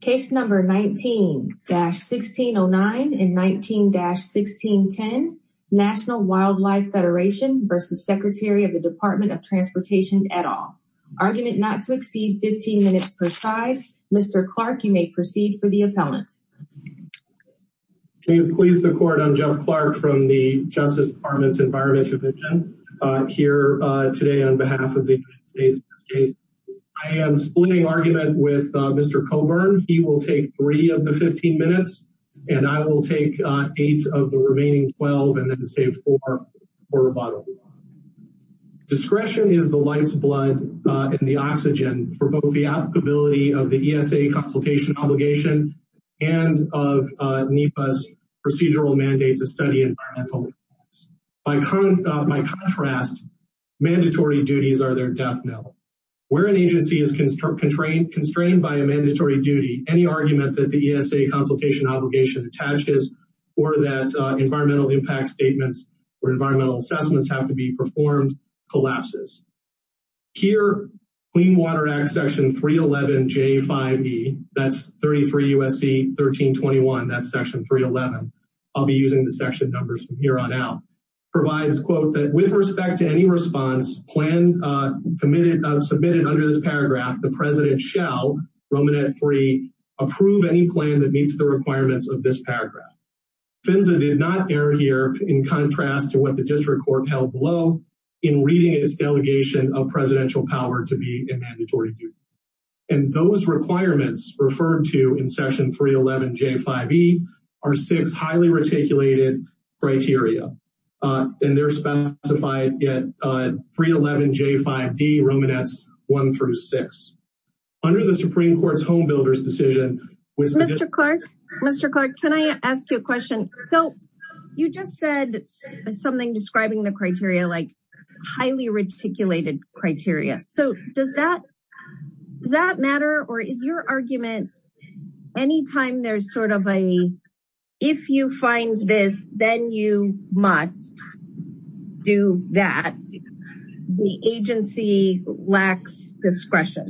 Case number 19-1609 and 19-1610 National Wildlife Federation v. Secretary of the Department of Transportation et al. Argument not to exceed 15 minutes per side. Mr. Clark, you may proceed for the appellant. Please the court. I'm Jeff Clark from the Justice Department's Environment Division here today on behalf of the United States. I am splitting argument with Mr. Colburn. He will take three of the 15 minutes and I will take eight of the remaining 12 and then save four for rebuttal. Discretion is the life's blood and the oxygen for both the applicability of the ESA consultation obligation and of NEPA's procedural mandate to study environmental impacts. By contrast, mandatory duties are their death knell. Where an agency is constrained by a mandatory duty, any argument that the ESA consultation obligation attaches or that environmental impact statements or environmental assessments have to be performed collapses. Here, Clean Water Act section 311 J5E, that's 33 U.S.C. 1321, that's section 311, I'll be using the section numbers from here on out, provides, quote, that with respect to any plan submitted under this paragraph, the president shall, Romanet 3, approve any plan that meets the requirements of this paragraph. FINSA did not err here in contrast to what the district court held below in reading its delegation of presidential power to be a mandatory duty. And those requirements referred to in section 311 J5E are six highly reticulated criteria. And they're specified at 311 J5D Romanets 1 through 6. Under the Supreme Court's homebuilders decision, Mr. Clark, Mr. Clark, can I ask you a question? So you just said something describing the criteria like highly reticulated criteria. So does that matter? Or is your argument anytime there's sort of a, if you find this, then you must do that, the agency lacks discretion?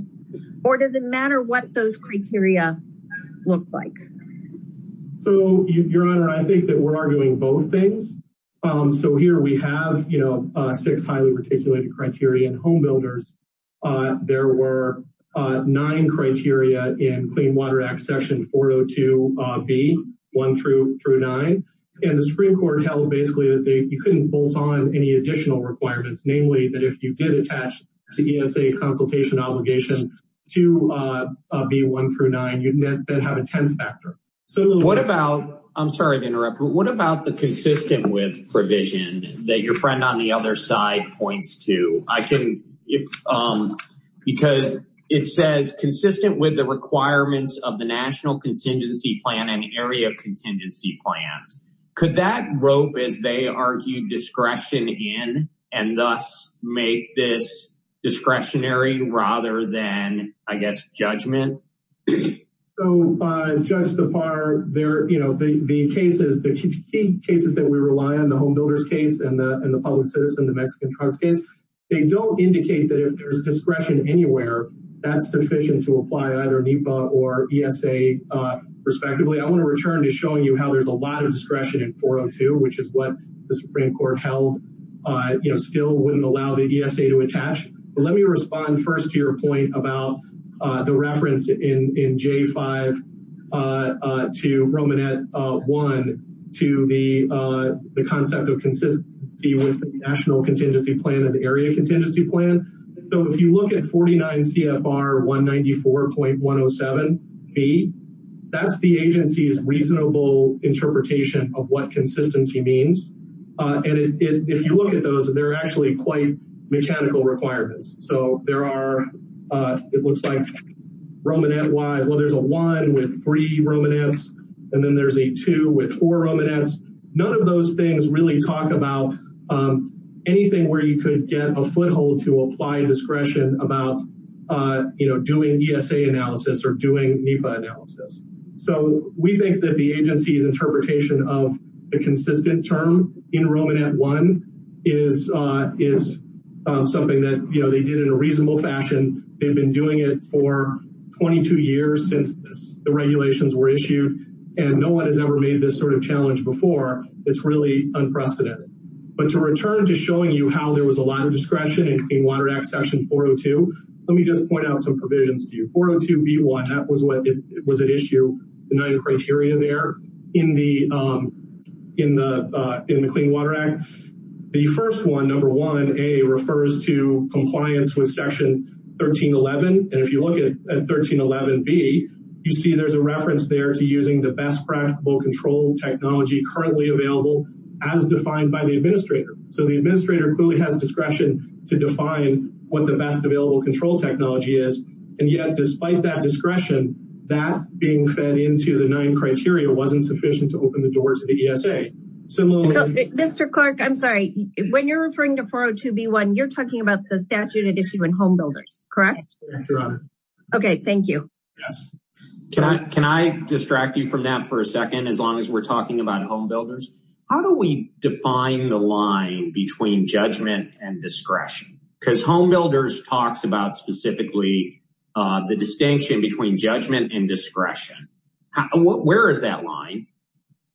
Or does it matter what those criteria look like? So your honor, I think that we're arguing both things. So here we have, six highly reticulated criteria in homebuilders. There were nine criteria in Clean Water Act section 402B 1 through 9. And the Supreme Court held basically that you couldn't bolt on any additional requirements, namely that if you did attach the ESA consultation obligation to B1 through 9, you'd then have a 10th factor. So what about, I'm sorry to interrupt, but what about the provision that your friend on the other side points to? Because it says consistent with the requirements of the National Contingency Plan and Area Contingency Plans. Could that rope, as they argue, discretion in and thus make this discretionary rather than, I guess, judgment? So, Judge Kapar, the key cases that we rely on, the homebuilders case and the public citizen, the Mexican trucks case, they don't indicate that if there's discretion anywhere, that's sufficient to apply either NEPA or ESA, respectively. I want to return to showing you how there's a lot of discretion in 402, which is what the Supreme Court held, still wouldn't allow the ESA to attach. But let me respond first to your point about the reference to in J5 to Romanet 1 to the concept of consistency with the National Contingency Plan and the Area Contingency Plan. So if you look at 49 CFR 194.107B, that's the agency's reasonable interpretation of what consistency means. And if you look at those, they're actually quite mechanical requirements. So there are, it looks like Romanet wise, well, there's a one with three Romanets, and then there's a two with four Romanets. None of those things really talk about anything where you could get a foothold to apply discretion about doing ESA analysis or doing NEPA analysis. So we think that the agency's interpretation of the consistent term in Romanet 1 is something that, you know, they did in a reasonable fashion. They've been doing it for 22 years since the regulations were issued, and no one has ever made this sort of challenge before. It's really unprecedented. But to return to showing you how there was a lot of discretion in Clean Water Act section 402, let me just point out some provisions to you. 402B1, that was what it issued, the nine criteria there in the Clean Water Act. The first one, number 1A, refers to compliance with section 1311. And if you look at 1311B, you see there's a reference there to using the best practical control technology currently available as defined by the administrator. So the administrator clearly has discretion to define what the best available control technology is. And yet, despite that discretion, that being fed into the nine criteria wasn't sufficient to open the door to the ESA. Mr. Clark, I'm sorry, when you're referring to 402B1, you're talking about the statute it issued when homebuilders, correct? Okay, thank you. Can I distract you from that for a second, as long as we're talking about homebuilders? How do we define the line between judgment and discretion? Because homebuilders talks about specifically the distinction between judgment and discretion. Where is that line?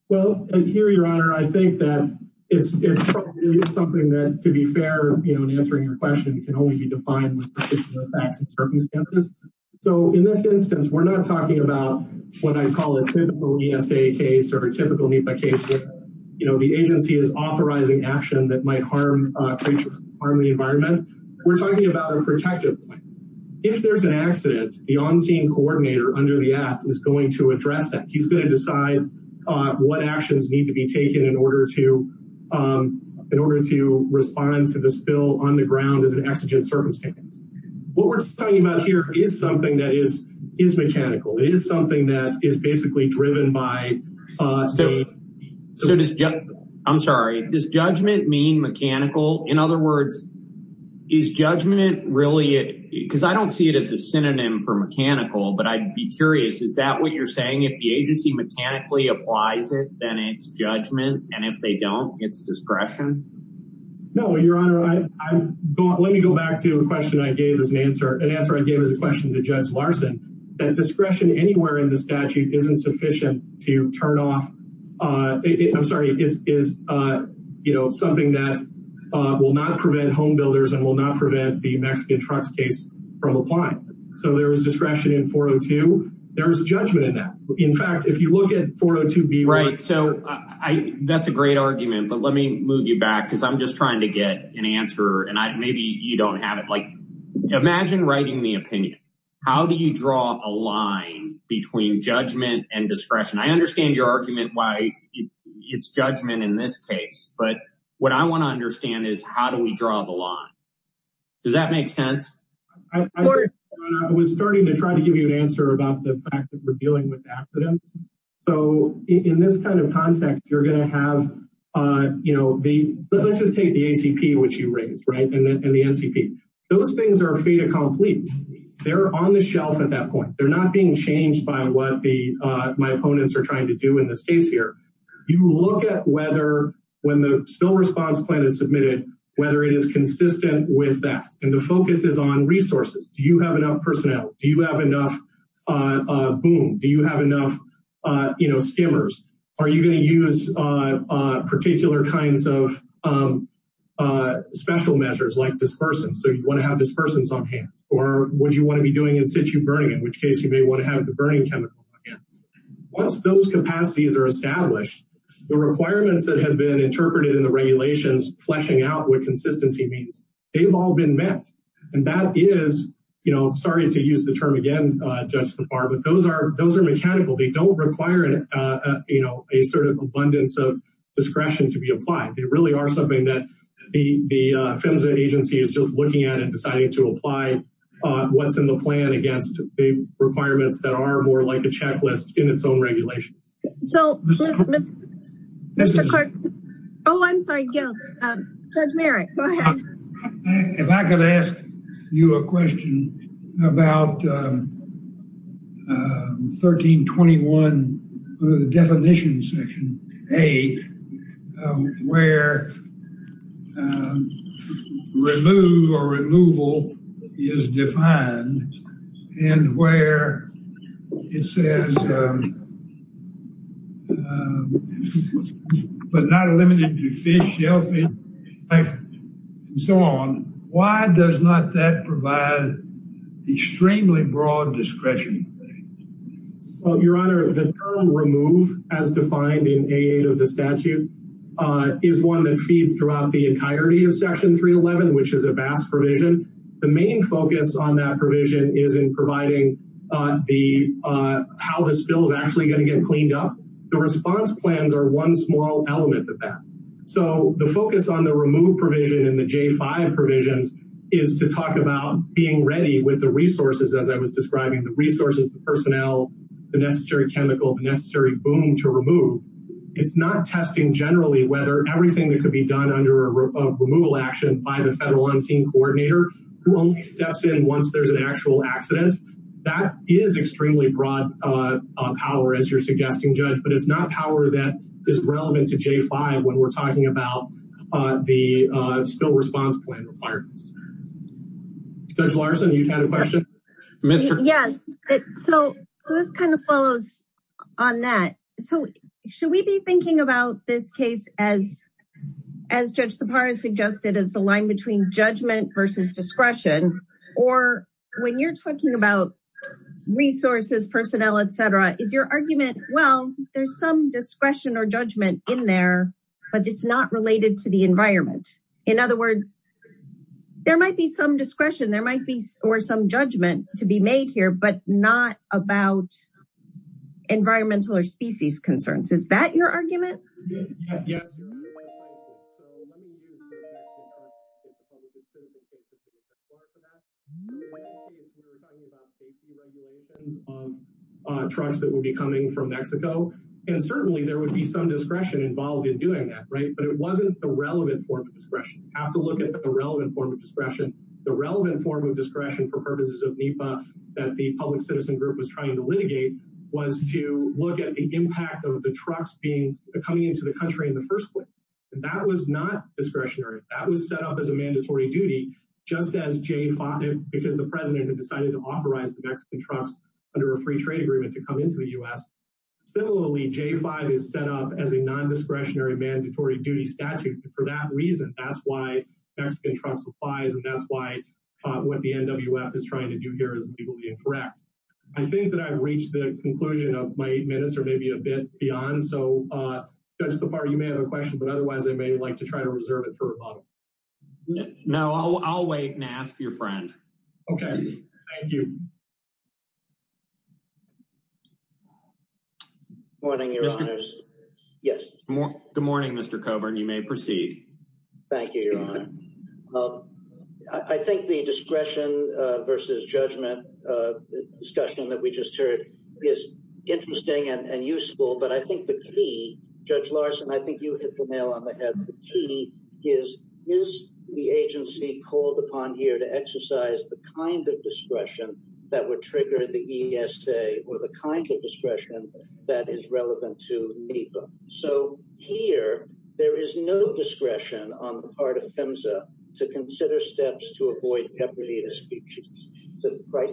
Well, here, your honor, I think that it's something that, to be fair, you know, in answering your question, can only be defined with particular facts and circumstances. So in this instance, we're not talking about what I call a typical ESA case or a typical NEPA case where, you know, the agency is authorizing action that might harm creatures, harm the environment. We're talking about a protective plan. If there's an accident, the on-scene coordinator under the act is going to address that. He's going to decide what actions need to be taken in order to respond to the spill on the ground as an exigent circumstance. What we're talking about here is something that is mechanical. It is something that is basically driven by... So does, I'm sorry, does judgment mean mechanical? In other words, is judgment really, because I don't see it as a synonym for mechanical, but I'd be curious, is that what you're saying? If the agency mechanically applies it, then it's judgment, and if they don't, it's discretion? No, your honor, let me go back to a question I gave as an answer, an answer I gave as a question to Judge Larson, that discretion anywhere in the statute isn't sufficient to turn off, I'm sorry, is, you know, something that will not prevent home builders and will not prevent the Mexican trucks case from applying. So there is discretion in 402. There's judgment in that. In fact, if you look at 402b... Right, so that's a great argument, but let me move you back because I'm just trying to get an answer, and maybe you don't have it. Imagine writing the opinion. How do you draw a line between judgment and discretion? I understand your argument, why it's judgment in this case, but what I want to understand is, how do we draw the line? Does that make sense? I was starting to try to give you an answer about the fact that we're dealing with accidents. So in this kind of context, you're going to have, you know, let's just take the ACP, which you raised, right, and the NCP. Those things are fait accompli. They're on the shelf at that point. They're not being changed by what my opponents are trying to do in this case here. You look at whether, when the spill response plan is submitted, whether it is consistent with that, and the focus is on resources. Do you have enough personnel? Do you have enough skimmers? Are you going to use particular kinds of special measures like dispersants? So you want to have dispersants on hand, or would you want to be doing in-situ burning, in which case you may want to have the burning chemical again. Once those capacities are established, the requirements that have been interpreted in the regulations fleshing out what consistency means, they've all been met, and that is, you know, sorry to use the term again, just the bar, but those are mechanical. They don't require, you know, a sort of abundance of discretion to be applied. They really are something that the PHMSA agency is just looking at and deciding to apply what's in the plan against the requirements that are more like a checklist in its own regulation. So, Mr. Clark, oh, I'm sorry, Judge Merritt, go ahead. If I could ask you a question about 1321, the definition section, A, where remove or removal is defined and where it says, um, um, but not limited to fish, shellfish, and so on, why does not that provide extremely broad discretion? Well, Your Honor, the term remove as defined in A8 of the statute is one that feeds throughout the entirety of Section 311, which is a vast provision. The main focus on that provision is in providing the, uh, how this bill is actually going to get cleaned up. The response plans are one small element of that. So, the focus on the remove provision in the J5 provisions is to talk about being ready with the resources, as I was describing, the resources, the personnel, the necessary chemical, the necessary boom to remove. It's not testing generally whether everything that could be done under a removal action by Federal Unseen Coordinator who only steps in once there's an actual accident. That is extremely broad, uh, power, as you're suggesting, Judge, but it's not power that is relevant to J5 when we're talking about, uh, the, uh, spill response plan requirements. Judge Larson, you had a question? Yes, so this kind of follows on that. So, should we be thinking about this case as, as Judge Tappara suggested, as the line between judgment versus discretion, or when you're talking about resources, personnel, etc., is your argument, well, there's some discretion or judgment in there, but it's not related to the environment? In other words, there might be some discretion, there might be, or some judgment to be made here, but not about environmental or species concerns. Is that your argument? Yes, yes, so let me use the question about if a public citizen thinks it would be required for that. We were talking about safety regulations on trucks that would be coming from Mexico, and certainly there would be some discretion involved in doing that, right, but it wasn't the relevant form of discretion. You have to look at the relevant form of discretion. The relevant form of discretion for purposes of NEPA that the public of the trucks being coming into the country in the first place, that was not discretionary. That was set up as a mandatory duty, just as J5, because the president had decided to authorize the Mexican trucks under a free trade agreement to come into the U.S. Similarly, J5 is set up as a non-discretionary mandatory duty statute. For that reason, that's why Mexican truck supplies, and that's why what the NWF is trying to do here is legally incorrect. I think that I've reached the conclusion of my minutes, or maybe a bit beyond, so Judge LaFarge, you may have a question, but otherwise I may like to try to reserve it for a moment. No, I'll wait and ask your friend. Okay, thank you. Good morning, Your Honors. Good morning, Mr. Coburn. You may proceed. Thank you, Your Honor. I think the discretion versus judgment discussion that we just heard is interesting and useful, but I think the key, Judge Larson, I think you hit the nail on the head. The key is, is the agency called upon here to exercise the kind of discretion that would trigger the ESA or the kind of discretion that is relevant to NEPA? So here, there is no discretion on the ESA to consider steps to avoid heavily in a speech.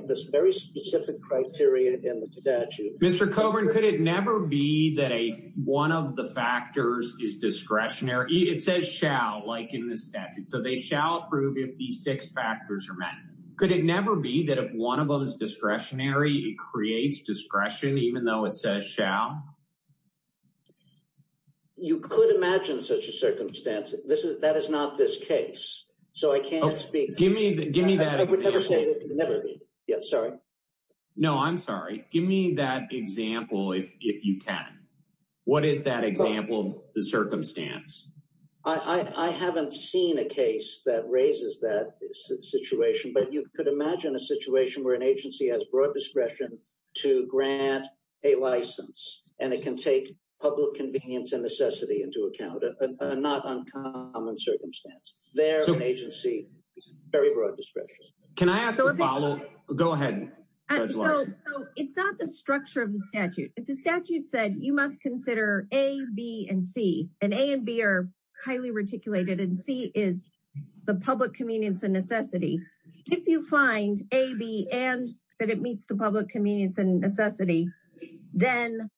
This very specific criteria in the statute. Mr. Coburn, could it never be that one of the factors is discretionary? It says shall, like in the statute, so they shall approve if these six factors are met. Could it never be that if one of them is discretionary, it creates discretion even though it says shall? You could imagine such a so I can't speak. Give me that example. I would never say that it could never be. Yeah, sorry. No, I'm sorry. Give me that example if you can. What is that example, the circumstance? I haven't seen a case that raises that situation, but you could imagine a situation where an agency has broad discretion to grant a license and it can take public convenience and necessity into account, a not uncommon circumstance. Their agency is very broad discretionary. Can I ask to follow? Go ahead. So it's not the structure of the statute. The statute said you must consider A, B, and C, and A and B are highly reticulated, and C is the public convenience and necessity. If you find A, B, and that it meets the public convenience and necessity, then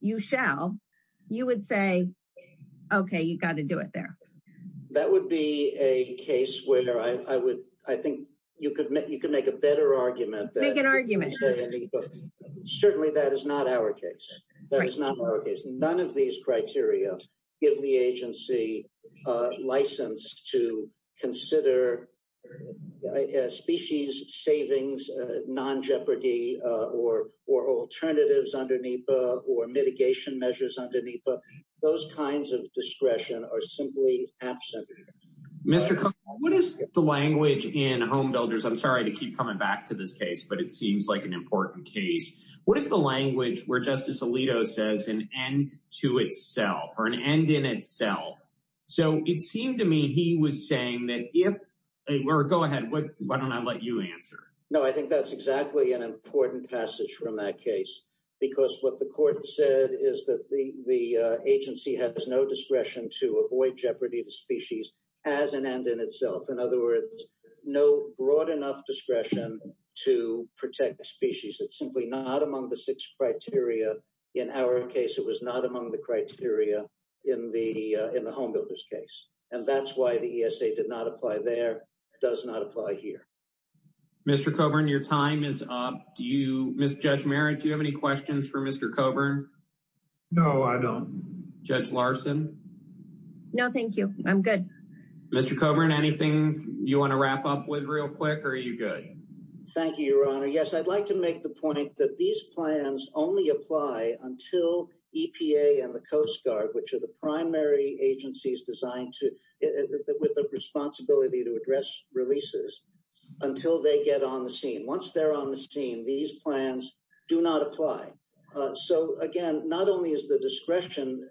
you shall. You would say, okay, you got to do it there. That would be a case where I think you could make a better argument. Make an argument. Certainly, that is not our case. That is not our case. None of these criteria give the agency a license to consider species savings, non-jeopardy, or alternatives under NEPA, or mitigation measures under NEPA. Those kinds of discretion are simply absent. Mr. Cohn, what is the language in Home Builders, I'm sorry to keep coming back to this case, but it seems like an important case. What is the language where Justice Alito says an end to itself or an end in itself? So it seemed to me he was saying that if, or go ahead, why don't I let you answer? No, I think that's exactly an important passage from that case, because what the court said is that the agency has no discretion to avoid jeopardy to species as an end in itself. In other words, no broad enough discretion to protect the species. It's simply not among the six criteria. In our case, it was not among the criteria in the Home Builders case, and that's why the ESA did not apply there. It does not apply here. Mr. Coburn, your time is up. Ms. Judge Merritt, do you have any questions for Mr. Coburn? No, I don't. Judge Larson? No, thank you. I'm good. Mr. Coburn, anything you want to wrap up with real quick, or are you good? Thank you, Your Honor. Yes, I'd like to make the point that these plans only apply until EPA and the Coast Guard, which are the primary agencies designed with the responsibility to address releases, until they get on the scene. Once they're on the scene, these plans do not apply. So again, not only is the discretion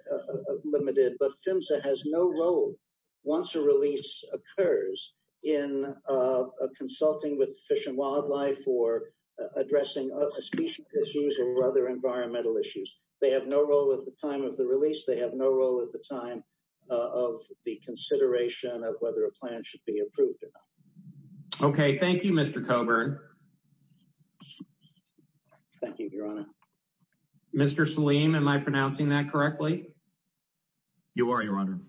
limited, but PHMSA has no role, once a release occurs, in consulting with Fish and Wildlife or addressing a species issue or other environmental issues. They have no role at the time of the of the consideration of whether a plan should be approved. Okay, thank you, Mr. Coburn. Thank you, Your Honor. Mr. Salim, am I pronouncing that correctly? You are, Your Honor.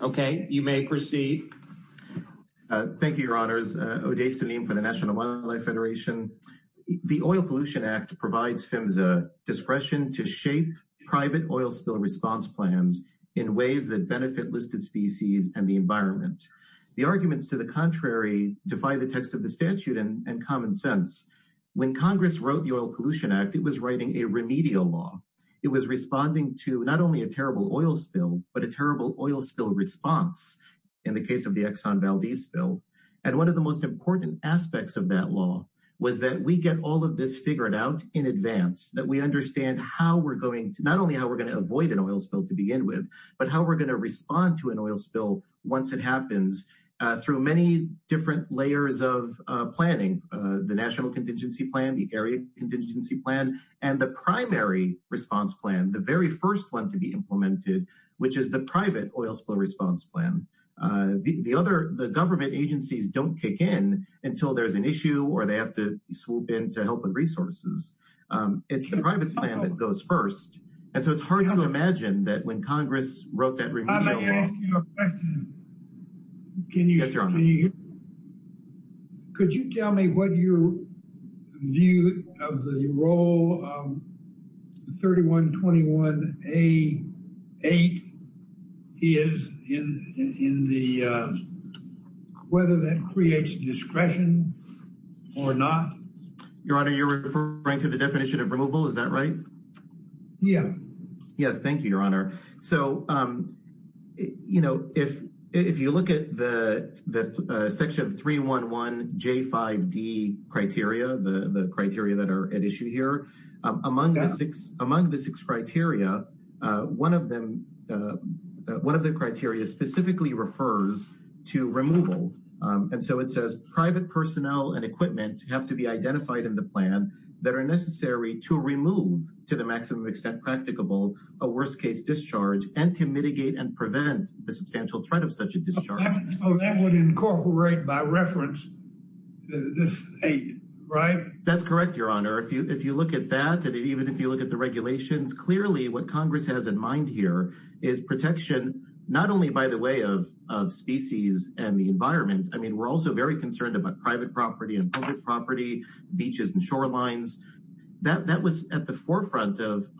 Okay, you may proceed. Thank you, Your Honors. Oday Salim for the National Wildlife Federation. The Oil Pollution Act provides PHMSA discretion to shape private oil spill response plans in ways that benefit listed species and the environment. The arguments to the contrary defy the text of the statute and common sense. When Congress wrote the Oil Pollution Act, it was writing a remedial law. It was responding to not only a terrible oil spill, but a terrible oil spill response, in the case of the Exxon Valdez spill. And one of the most important aspects of that law was that we get all of this figured out in advance, that we understand how we're going to, how we're going to avoid an oil spill to begin with, but how we're going to respond to an oil spill once it happens through many different layers of planning. The National Contingency Plan, the Area Contingency Plan, and the primary response plan, the very first one to be implemented, which is the private oil spill response plan. The other, the government agencies don't kick in until there's an issue or they have to swoop in to help with resources. It's the private plan that goes first. And so it's hard to imagine that when Congress wrote that remedial law. I'd like to ask you a question. Can you hear me? Yes, Your Honor. Could you tell me what your view of the role of the 3121A8 is in the, whether that creates discretion or not? Your Honor, you're referring to the definition of removal, is that right? Yeah. Yes. Thank you, Your Honor. So, you know, if you look at the section 311J5D criteria, the criteria that are at issue here, among the six criteria, one of them, one of the criteria specifically refers to removal. And so it says private personnel and equipment have to be maximum extent practicable, a worst case discharge, and to mitigate and prevent the substantial threat of such a discharge. So that would incorporate, by reference, this 8, right? That's correct, Your Honor. If you look at that, and even if you look at the regulations, clearly what Congress has in mind here is protection, not only by the way of species and the environment. I mean, we're also very concerned about private property and public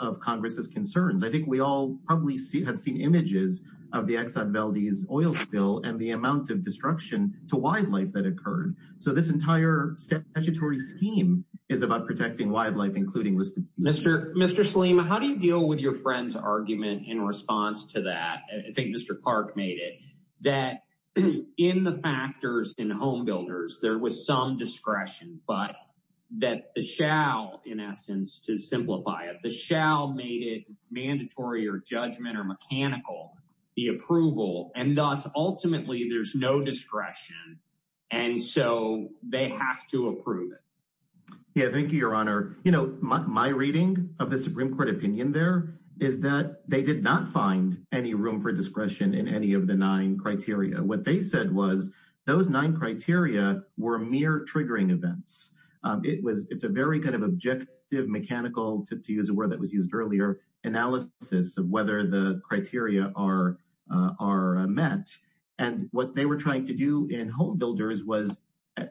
of Congress's concerns. I think we all probably have seen images of the Exxon Valdez oil spill and the amount of destruction to wildlife that occurred. So this entire statutory scheme is about protecting wildlife, including listed species. Mr. Salim, how do you deal with your friend's argument in response to that? I think Mr. Clark made it, that in the factors in home there was some discretion, but that the shall, in essence, to simplify it, the shall made it mandatory or judgment or mechanical, the approval, and thus ultimately there's no discretion. And so they have to approve it. Yeah, thank you, Your Honor. You know, my reading of the Supreme Court opinion there is that they did not find any room for discretion in any of the nine criteria were mere triggering events. It's a very kind of objective mechanical, to use a word that was used earlier, analysis of whether the criteria are met. And what they were trying to do in home builders was,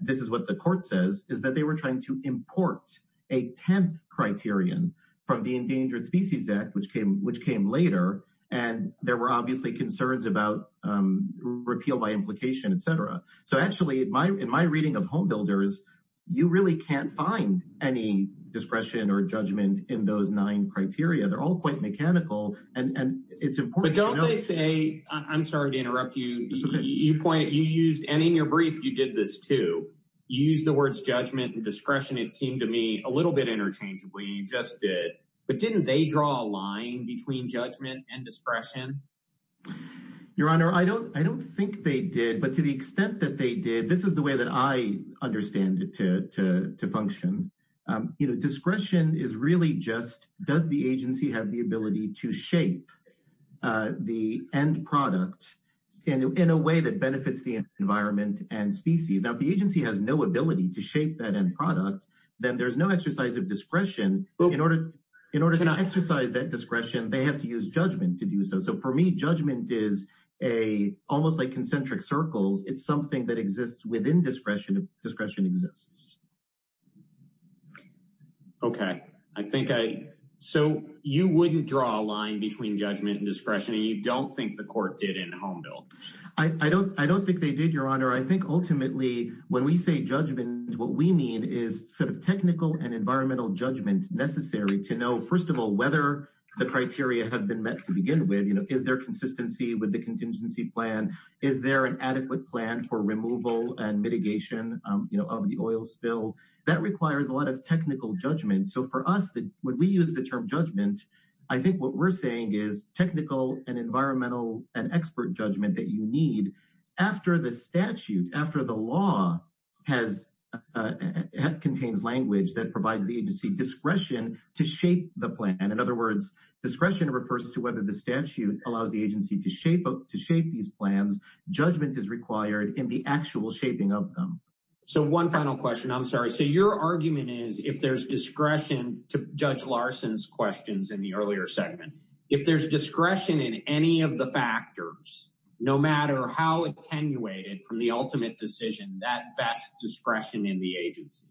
this is what the court says, is that they were trying to import a 10th criterion from the Endangered Species Act, which came later. And there were obviously concerns about repeal by implication, etc. So actually, in my reading of home builders, you really can't find any discretion or judgment in those nine criteria. They're all quite mechanical, and it's important. But don't they say, I'm sorry to interrupt you, you pointed, you used, and in your brief you did this too, you used the words judgment and discretion, it seemed to me, a little bit interchangeably, you just did, but didn't they draw a line between judgment and discretion? Your Honor, I don't think they did. But to the extent that they did, this is the way that I understand it to function. Discretion is really just, does the agency have the ability to shape the end product in a way that benefits the environment and species? Now, if the agency has no ability to shape that end product, then there's no exercise of discretion. In order to exercise that discretion, they have to use judgment to do so. So for me, judgment is a, almost like concentric circles, it's something that exists within discretion, discretion exists. Okay, I think I, so you wouldn't draw a line between judgment and discretion, and you don't think the court did in home build? I don't, I don't think they did, Your Honor. I think ultimately, when we say judgment, what we mean is sort of technical and environmental judgment necessary to know, first of all, whether the criteria have been met to begin with, you know, is there consistency with the contingency plan? Is there an adequate plan for removal and mitigation, you know, of the oil spill? That requires a lot of technical judgment. So for us, when we use the term judgment, I think what we're saying is technical and environmental and expert judgment that you need after the statute, after the law has, contains language that provides the agency discretion to shape the plan. In other words, discretion refers to whether the statute allows the agency to shape, to shape these plans, judgment is required in the actual shaping of them. So one final question, I'm sorry. So your argument is if there's discretion to Judge Larson's questions in the earlier segment, if there's discretion in any of the factors, no matter how attenuated from the ultimate decision that best discretion in the agency?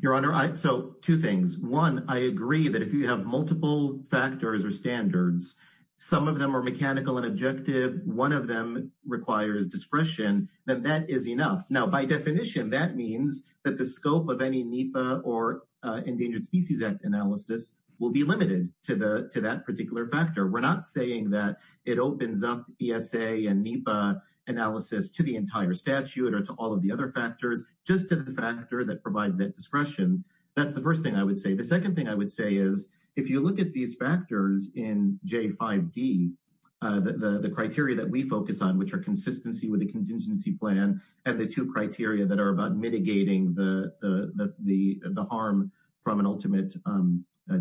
Your Honor, so two things. One, I agree that if you have multiple factors or standards, some of them are mechanical and objective, one of them requires discretion, then that is enough. Now, by definition, that means that the scope of any NEPA or Endangered Species Act analysis will be limited to that particular factor. We're not saying that it opens up ESA and NEPA analysis to the entire statute or to all of the other factors, just to the factor that provides discretion. That's the first thing I would say. The second thing I would say is if you look at these factors in J5D, the criteria that we focus on, which are consistency with the contingency plan, and the two criteria that are about mitigating the harm from an ultimate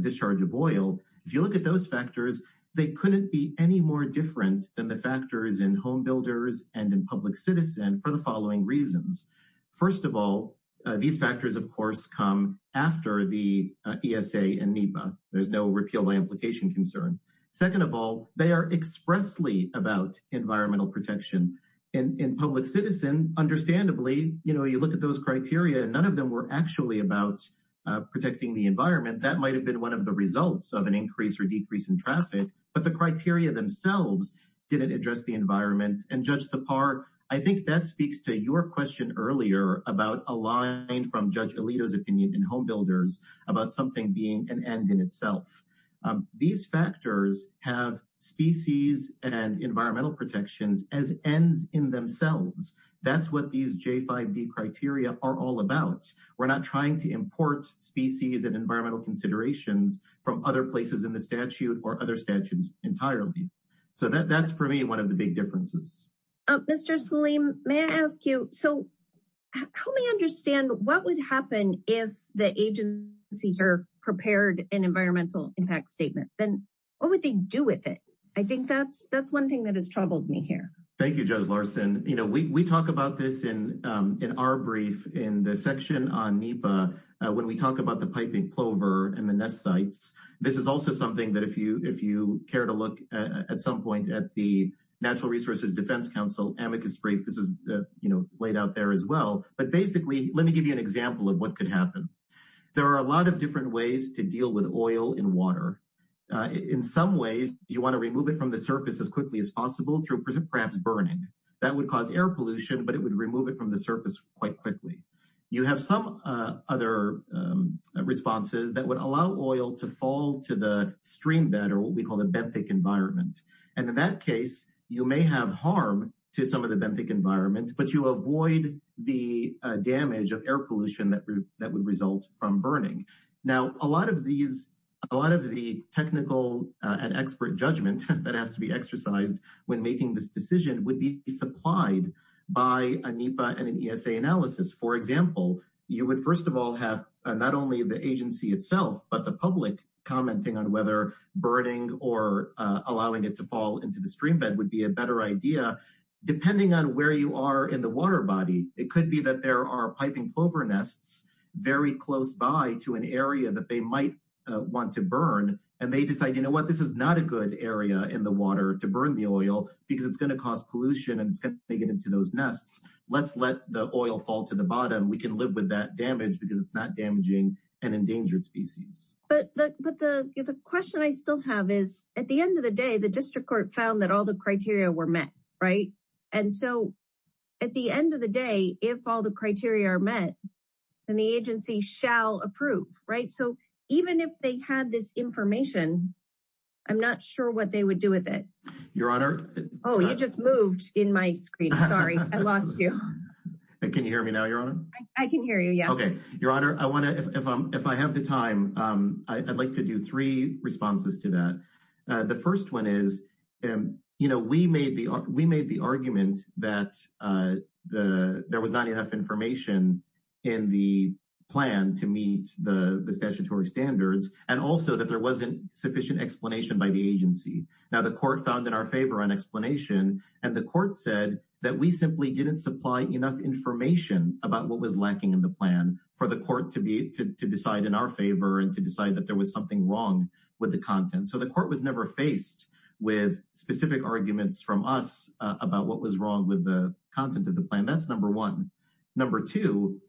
discharge of oil, if you look at those factors, they couldn't be any more different than the factors in home come after the ESA and NEPA. There's no repeal by implication concern. Second of all, they are expressly about environmental protection. In public citizen, understandably, you look at those criteria and none of them were actually about protecting the environment. That might have been one of the results of an increase or decrease in traffic, but the criteria themselves didn't address the environment and judge the part. I think that speaks to your question earlier about a line from Judge Alito's opinion in Home Builders about something being an end in itself. These factors have species and environmental protections as ends in themselves. That's what these J5D criteria are all about. We're not trying to import species and environmental considerations from other places in the statute or other statutes entirely. So that's for me one of the big differences. Mr. Salim, may I ask you, so help me understand what would happen if the agencies are prepared an environmental impact statement? Then what would they do with it? I think that's one thing that has troubled me here. Thank you, Judge Larson. You know, we talk about this in our brief in the section on NEPA when we talk about the piping plover and the nest sites. This is also something that if you care to look at some point at the Natural Resources Defense Council amicus brief, this is, you know, laid out there as well. But basically, let me give you an example of what could happen. There are a lot of different ways to deal with oil in water. In some ways, you want to remove it from the surface as quickly as possible through perhaps burning. That would cause air pollution, but it would remove it from the surface quite quickly. You have some other responses that would allow oil to fall to the stream bed or what we call the benthic environment. And in that case, you may have harm to some of the benthic environment, but you avoid the damage of air pollution that would result from burning. Now, a lot of these, a lot of the technical and expert judgment that has to be exercised when making this decision would be supplied by a NEPA and an ESA analysis. For example, you would first of all have not only the agency itself, but the public commenting on whether burning or allowing it to fall into the stream bed would be a better idea. Depending on where you are in the water body, it could be that there are piping plover nests very close by to an area that they might want to burn. And they decide, you know what, this is not a good area in the water to burn the oil because it's going to cause pollution and it's going to make it into those nests. Let's let the oil fall to the bottom. We can live with that damage because it's not damaging an endangered species. But the question I still have is at the end of the day, the district court found that all the criteria were met, right? And so at the end of the day, if all the criteria are met, then the agency shall approve, right? So even if they had this information, I'm not sure what they would do with it. Your Honor. Oh, you just moved in my screen. Sorry, I lost you. Can you hear me now, Your Honor? I can hear you. Yeah. Okay. Your Honor, I want to, if I have the time, I'd like to do three responses to that. The first one is, you know, we made the argument that there was not enough information in the plan to meet the statutory standards and also that there was not enough information in the plan to meet the statutory standards. So the court found in our favor an explanation and the court said that we simply didn't supply enough information about what was lacking in the plan for the court to decide in our favor and to decide that there was something wrong with the content. So the court was never faced with specific arguments from us about what was wrong with the content of the plan. That's number one. Number two,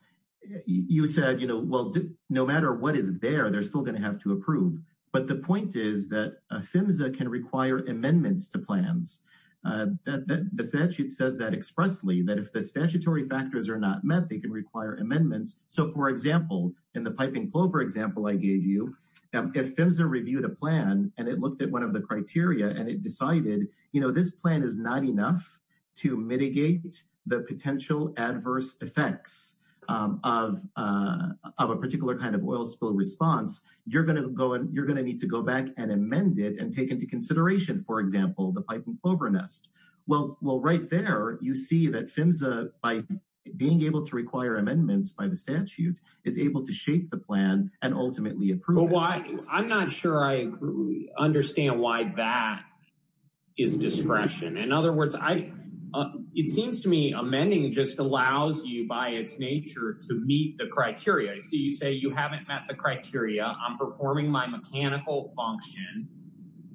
you said, well, no matter what is there, they're still going to have to approve. But the point is that PHMSA can require amendments to plans. The statute says that expressly, that if the statutory factors are not met, they can require amendments. So for example, in the piping clover example I gave you, if PHMSA reviewed a plan and it looked at one of the criteria and it decided, this plan is not enough to mitigate the potential adverse effects of a particular kind of oil spill response, you're going to need to go back and amend it and take into consideration, for example, the piping clover nest. Well, right there, you see that PHMSA, by being able to require amendments by the statute, is able to shape the plan and ultimately approve it. I'm not sure I understand why that is discretion. In other words, it seems to me amending just allows you by its nature to meet the criteria. So you say you haven't met the criteria, I'm performing my mechanical function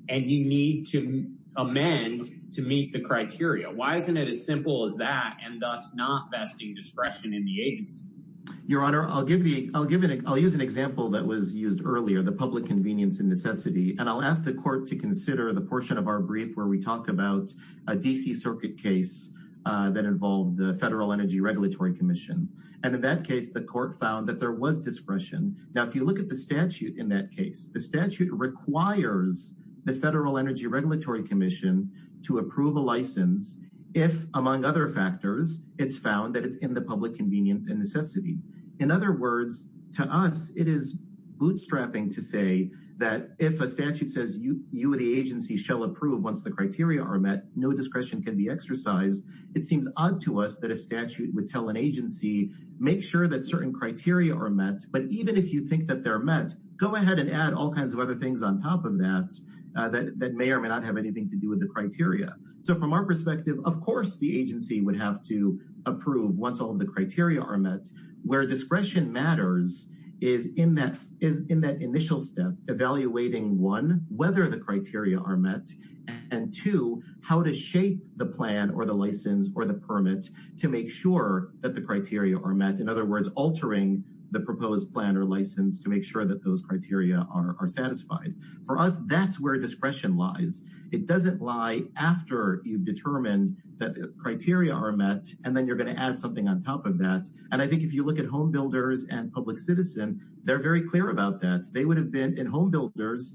and you need to amend to meet the criteria. Why isn't it as simple as that and thus not vesting discretion in the agency? Your Honor, I'll use an example that was used earlier, the public convenience and necessity, and I'll ask the court to consider the portion of our brief where we talk about a D.C. Circuit case that involved the Federal Energy Regulatory Commission. And in that case, the court found that there was discretion. Now, if you look at the statute in that case, the statute requires the Federal Energy Regulatory Commission to approve a license if, among other factors, it's found that it's in the public convenience and necessity. In other words, to us, it is bootstrapping to say that if a statute says you, the agency, shall approve once the criteria are met, no discretion can be exercised. It seems odd to us that a statute would tell an agency, make sure that certain criteria are met, but even if you think that they're met, go ahead and add all kinds of other things on top of that that may or may not have anything to do with the criteria. So from our perspective, of course, the agency would have to is in that initial step, evaluating one, whether the criteria are met, and two, how to shape the plan or the license or the permit to make sure that the criteria are met. In other words, altering the proposed plan or license to make sure that those criteria are satisfied. For us, that's where discretion lies. It doesn't lie after you've determined that the criteria are met, and then you're going to add something on top of that. And I think if you look at homebuilders and public citizen, they're very clear about that. They would have been in homebuilders.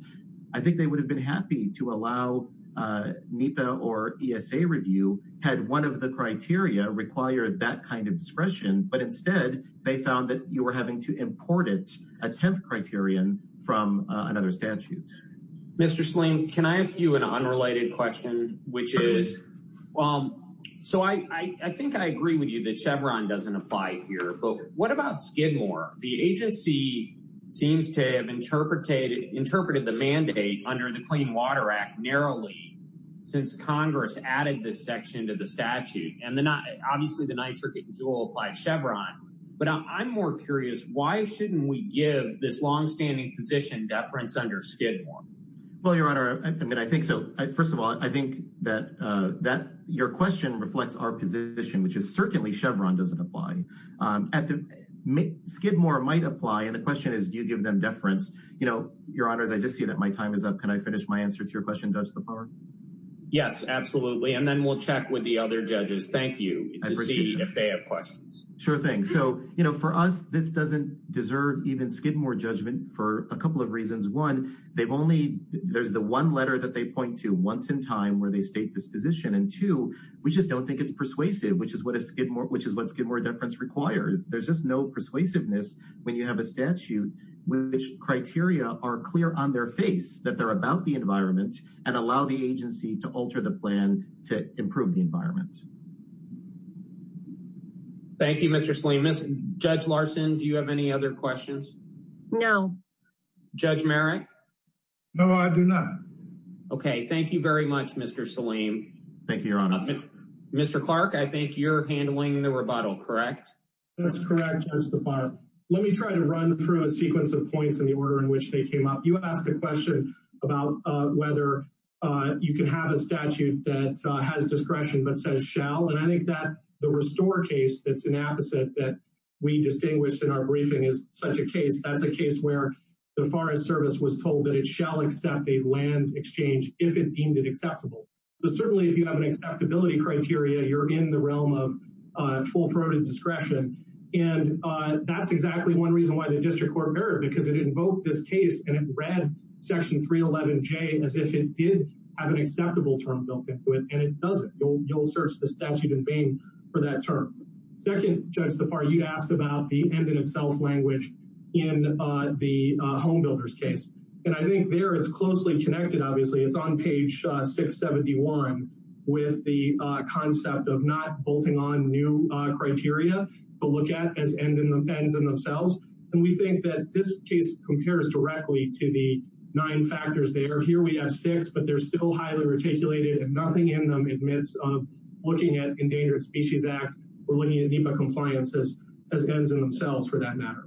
I think they would have been happy to allow NEPA or ESA review had one of the criteria required that kind of discretion, but instead they found that you were having to import it, a 10th criterion from another statute. Mr. Sling, can I ask you an unrelated question, which is, well, so I think I agree with you that Chevron doesn't apply here, but what about Skidmore? The agency seems to have interpreted the mandate under the Clean Water Act narrowly since Congress added this section to the statute. And then obviously the NYSERDA dual applied Chevron, but I'm more curious, why shouldn't we give this longstanding position deference under Skidmore? Well, Your Honor, I mean, I think so. First of all, I think that your question reflects our position, which is certainly Chevron doesn't apply. Skidmore might apply, and the question is, do you give them deference? Your Honor, as I just see that my time is up, can I finish my answer to your question, Judge Lepore? Yes, absolutely. And then we'll check with the other judges. Thank you to see if they have questions. Sure thing. So for us, this doesn't deserve even Skidmore judgment for a couple of reasons. One, there's the one letter that they point to once in time where they state this position. And two, we just don't think it's persuasive, which is what Skidmore deference requires. There's just no persuasiveness when you have a statute which criteria are clear on their face that they're about the environment and allow the agency to alter the plan to improve the environment. Thank you, Mr. Salim. Judge Larson, do you have any other questions? No. Judge Merrick? No, I do not. Okay, thank you very much, Mr. Salim. Thank you, Your Honor. Mr. Clark, I think you're handling the rebuttal, correct? That's correct, Judge Lafar. Let me try to run through a sequence of points in the order in which they came up. You asked a question about whether you could have a statute that has discretion but says shall. And I think that the Restore case that's an apposite that we distinguished in our briefing is such a case. That's a case where the Forest Service was told that it shall accept a land exchange if it deemed it acceptable. But certainly, if you have an acceptability criteria, you're in the realm of full-throated discretion. And that's exactly one reason why the District Court heard because it invoked this case and it read Section 311J as if it did have an acceptable term built into it. And it doesn't. You'll search the statute in vain for that term. Second, Judge Lafar, you asked about the end-in-itself language in the Home Builders case. And I think there it's closely connected, obviously. It's on page 671 with the concept of not bolting on new criteria to look at as ends in themselves. And we think that this case compares directly to the nine factors there. Here we have six, but they're still highly reticulated and nothing in them admits of looking at Endangered Species Act or looking at NEPA compliance as ends in themselves for that matter.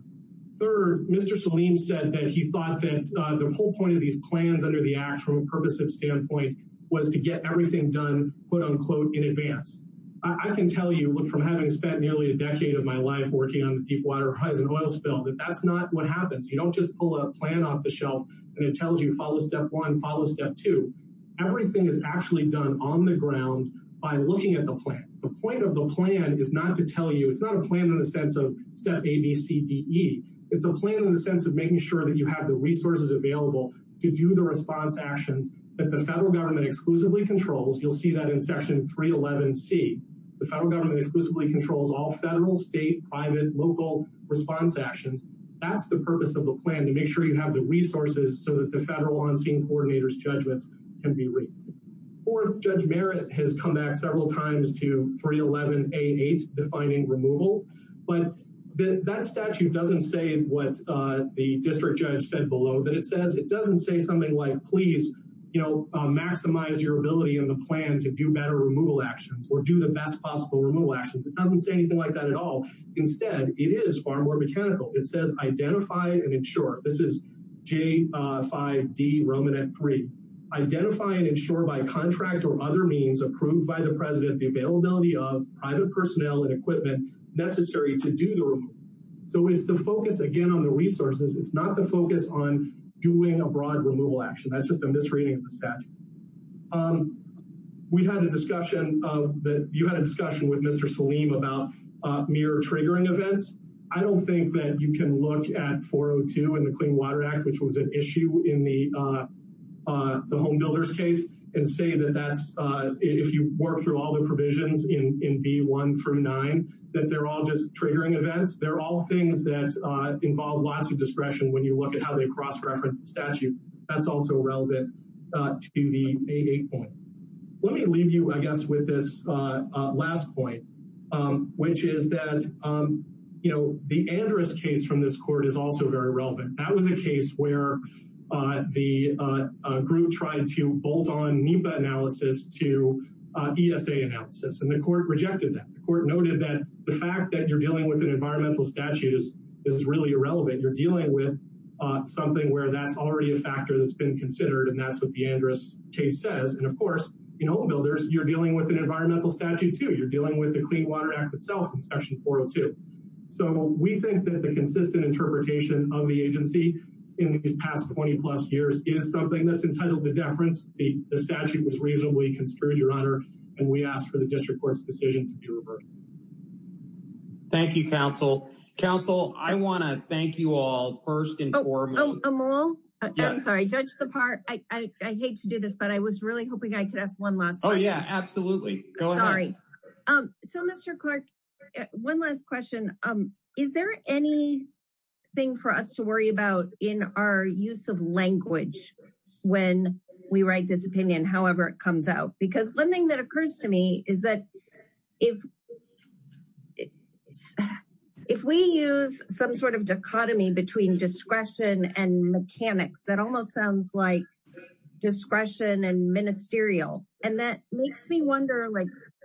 Third, Mr. Salim said that he thought that the whole point of these plans under the Act from a purposive standpoint was to get everything done, quote-unquote, in advance. I can tell you from having spent nearly a decade of my life working on the Deepwater Horizon oil spill that that's not what happens. You don't just pull a plan off the shelf and it tells you, follow step one, follow step two. Everything is actually done on the ground by looking at the plan. The point of the plan is not to tell you, it's not a plan in the sense of step A, B, C, D, E. It's a plan in the sense of making sure that you have the resources available to do the response actions that the federal government exclusively controls. You'll see that in Section 311C. The federal government exclusively controls all federal, state, private, local response actions. That's the purpose of the plan, to make sure you have the resources so that the federal on-scene coordinators judgments can be read. Fourth, Judge Merritt has come back several times to 311A8 defining removal, but that statute doesn't say what the district judge said below. It doesn't say something like, please maximize your ability in the plan to do better removal actions or do best possible removal actions. It doesn't say anything like that at all. Instead, it is far more mechanical. It says, identify and insure. This is J5D Romanette 3. Identify and insure by contract or other means approved by the president the availability of private personnel and equipment necessary to do the removal. So it's the focus again on the resources. It's not the focus on doing a broad removal action. That's just a misreading of the statute. We had a discussion with Mr. Salim about mere triggering events. I don't think that you can look at 402 in the Clean Water Act, which was an issue in the Home Builders case, and say that if you work through all the provisions in B1 through 9, that they're all just triggering events. They're all things that involve lots of discretion when you look at how they cross-reference the statute. That's also relevant to the A8 point. Let me leave you, I guess, with this last point, which is that the Andrus case from this court is also very relevant. That was a case where the group tried to bolt on NEPA analysis to ESA analysis, and the court rejected that. The court noted that the fact that you're dealing with an environmental statute is really irrelevant. You're dealing with something where that's already a factor that's been considered, and that's what the Andrus case says. Of course, in Home Builders, you're dealing with an environmental statute, too. You're dealing with the Clean Water Act itself in section 402. We think that the consistent interpretation of the agency in these past 20-plus years is something that's entitled to deference. The statute was reasonably construed, Your Honor, and we ask for the district court's decision to be judge the part. I hate to do this, but I was really hoping I could ask one last question. Oh, yeah, absolutely. Go ahead. Sorry. Mr. Clark, one last question. Is there anything for us to worry about in our use of language when we write this opinion, however it comes out? One thing that occurs to me is that if we use some sort of dichotomy between discretion and mechanics, that almost sounds like discretion and ministerial, and that makes me wonder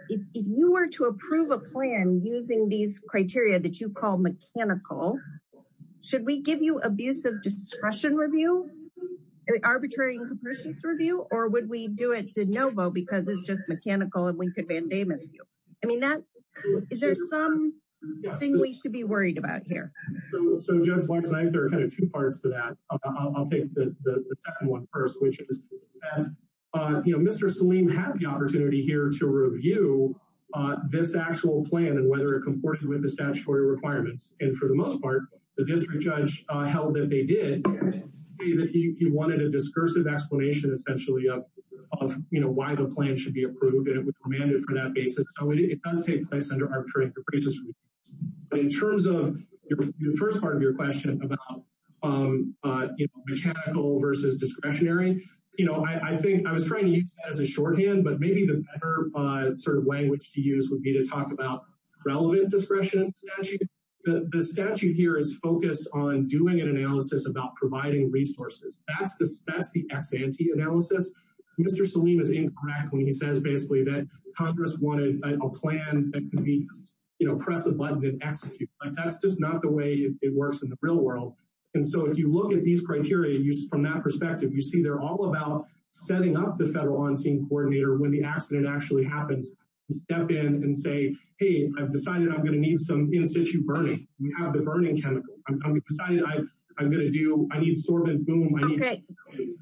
if you were to approve a plan using these criteria that you call mechanical, should we give you abusive discretion review, arbitrary and capricious review, or would we do it de novo because it's just mechanical and we could mandamus you? I mean, is there something we should be worried about here? So, Judge Clark, there are kind of two parts to that. I'll take the second one first, which is Mr. Saleem had the opportunity here to review this actual plan and whether it comported with the statutory requirements, and for the most part, the district judge held that they did. He wanted a discursive explanation, essentially, of why the plan should be approved, and it was commanded for that basis. So, it does take place under arbitrary capricious review, but in terms of the first part of your question about mechanical versus discretionary, you know, I think I was trying to use that as a shorthand, but maybe the better sort of language to use would be to talk about relevant discretion statute. The statute here is focused on doing an analysis about providing resources. That's the ex-ante analysis. Mr. Saleem is incorrect when he says, basically, that Congress wanted a plan that could be, you know, press a button and execute, but that's just not the way it works in the real world. And so, if you look at these criteria from that perspective, you see they're all about setting up the federal on-scene coordinator when the accident actually happens to step in and say, hey, I've decided I'm going to need some in-situ burning. We have the burning chemical. I'm going to do, I need Okay.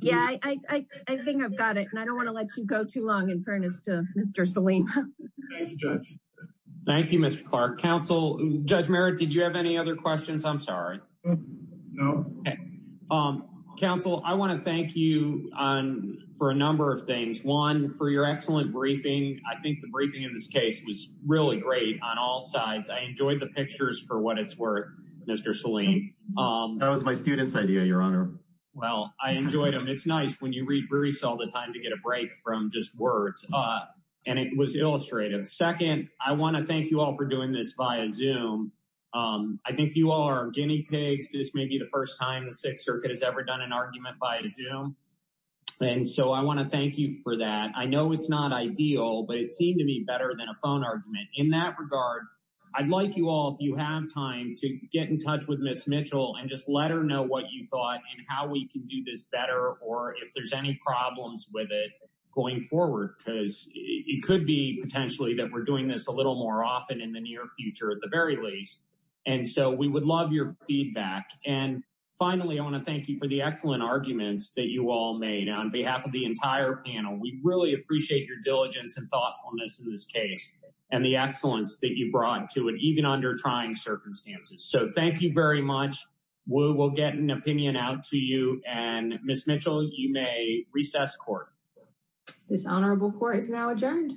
Yeah, I think I've got it, and I don't want to let you go too long in fairness to Mr. Saleem. Thank you, Mr. Clark. Counsel, Judge Merritt, did you have any other questions? I'm sorry. No. Counsel, I want to thank you for a number of things. One, for your excellent briefing. I think the briefing in this case was really great on all sides. I enjoyed the pictures for what it's That was my student's idea, your honor. Well, I enjoyed them. It's nice when you read briefs all the time to get a break from just words, and it was illustrative. Second, I want to thank you all for doing this via Zoom. I think you all are guinea pigs. This may be the first time the Sixth Circuit has ever done an argument via Zoom, and so I want to thank you for that. I know it's not ideal, but it seemed to be better than a phone argument. In that regard, I'd like you all, if you have time, to get in touch with Ms. Mitchell and just let her know what you thought and how we can do this better, or if there's any problems with it going forward, because it could be potentially that we're doing this a little more often in the near future at the very least. And so we would love your feedback. And finally, I want to thank you for the excellent arguments that you all made on behalf of the entire panel. We really appreciate your diligence and thoughtfulness in this case and the excellence that you brought to it, even under trying circumstances. So thank you very much. We will get an opinion out to you, and Ms. Mitchell, you may recess court. This honorable court is now adjourned.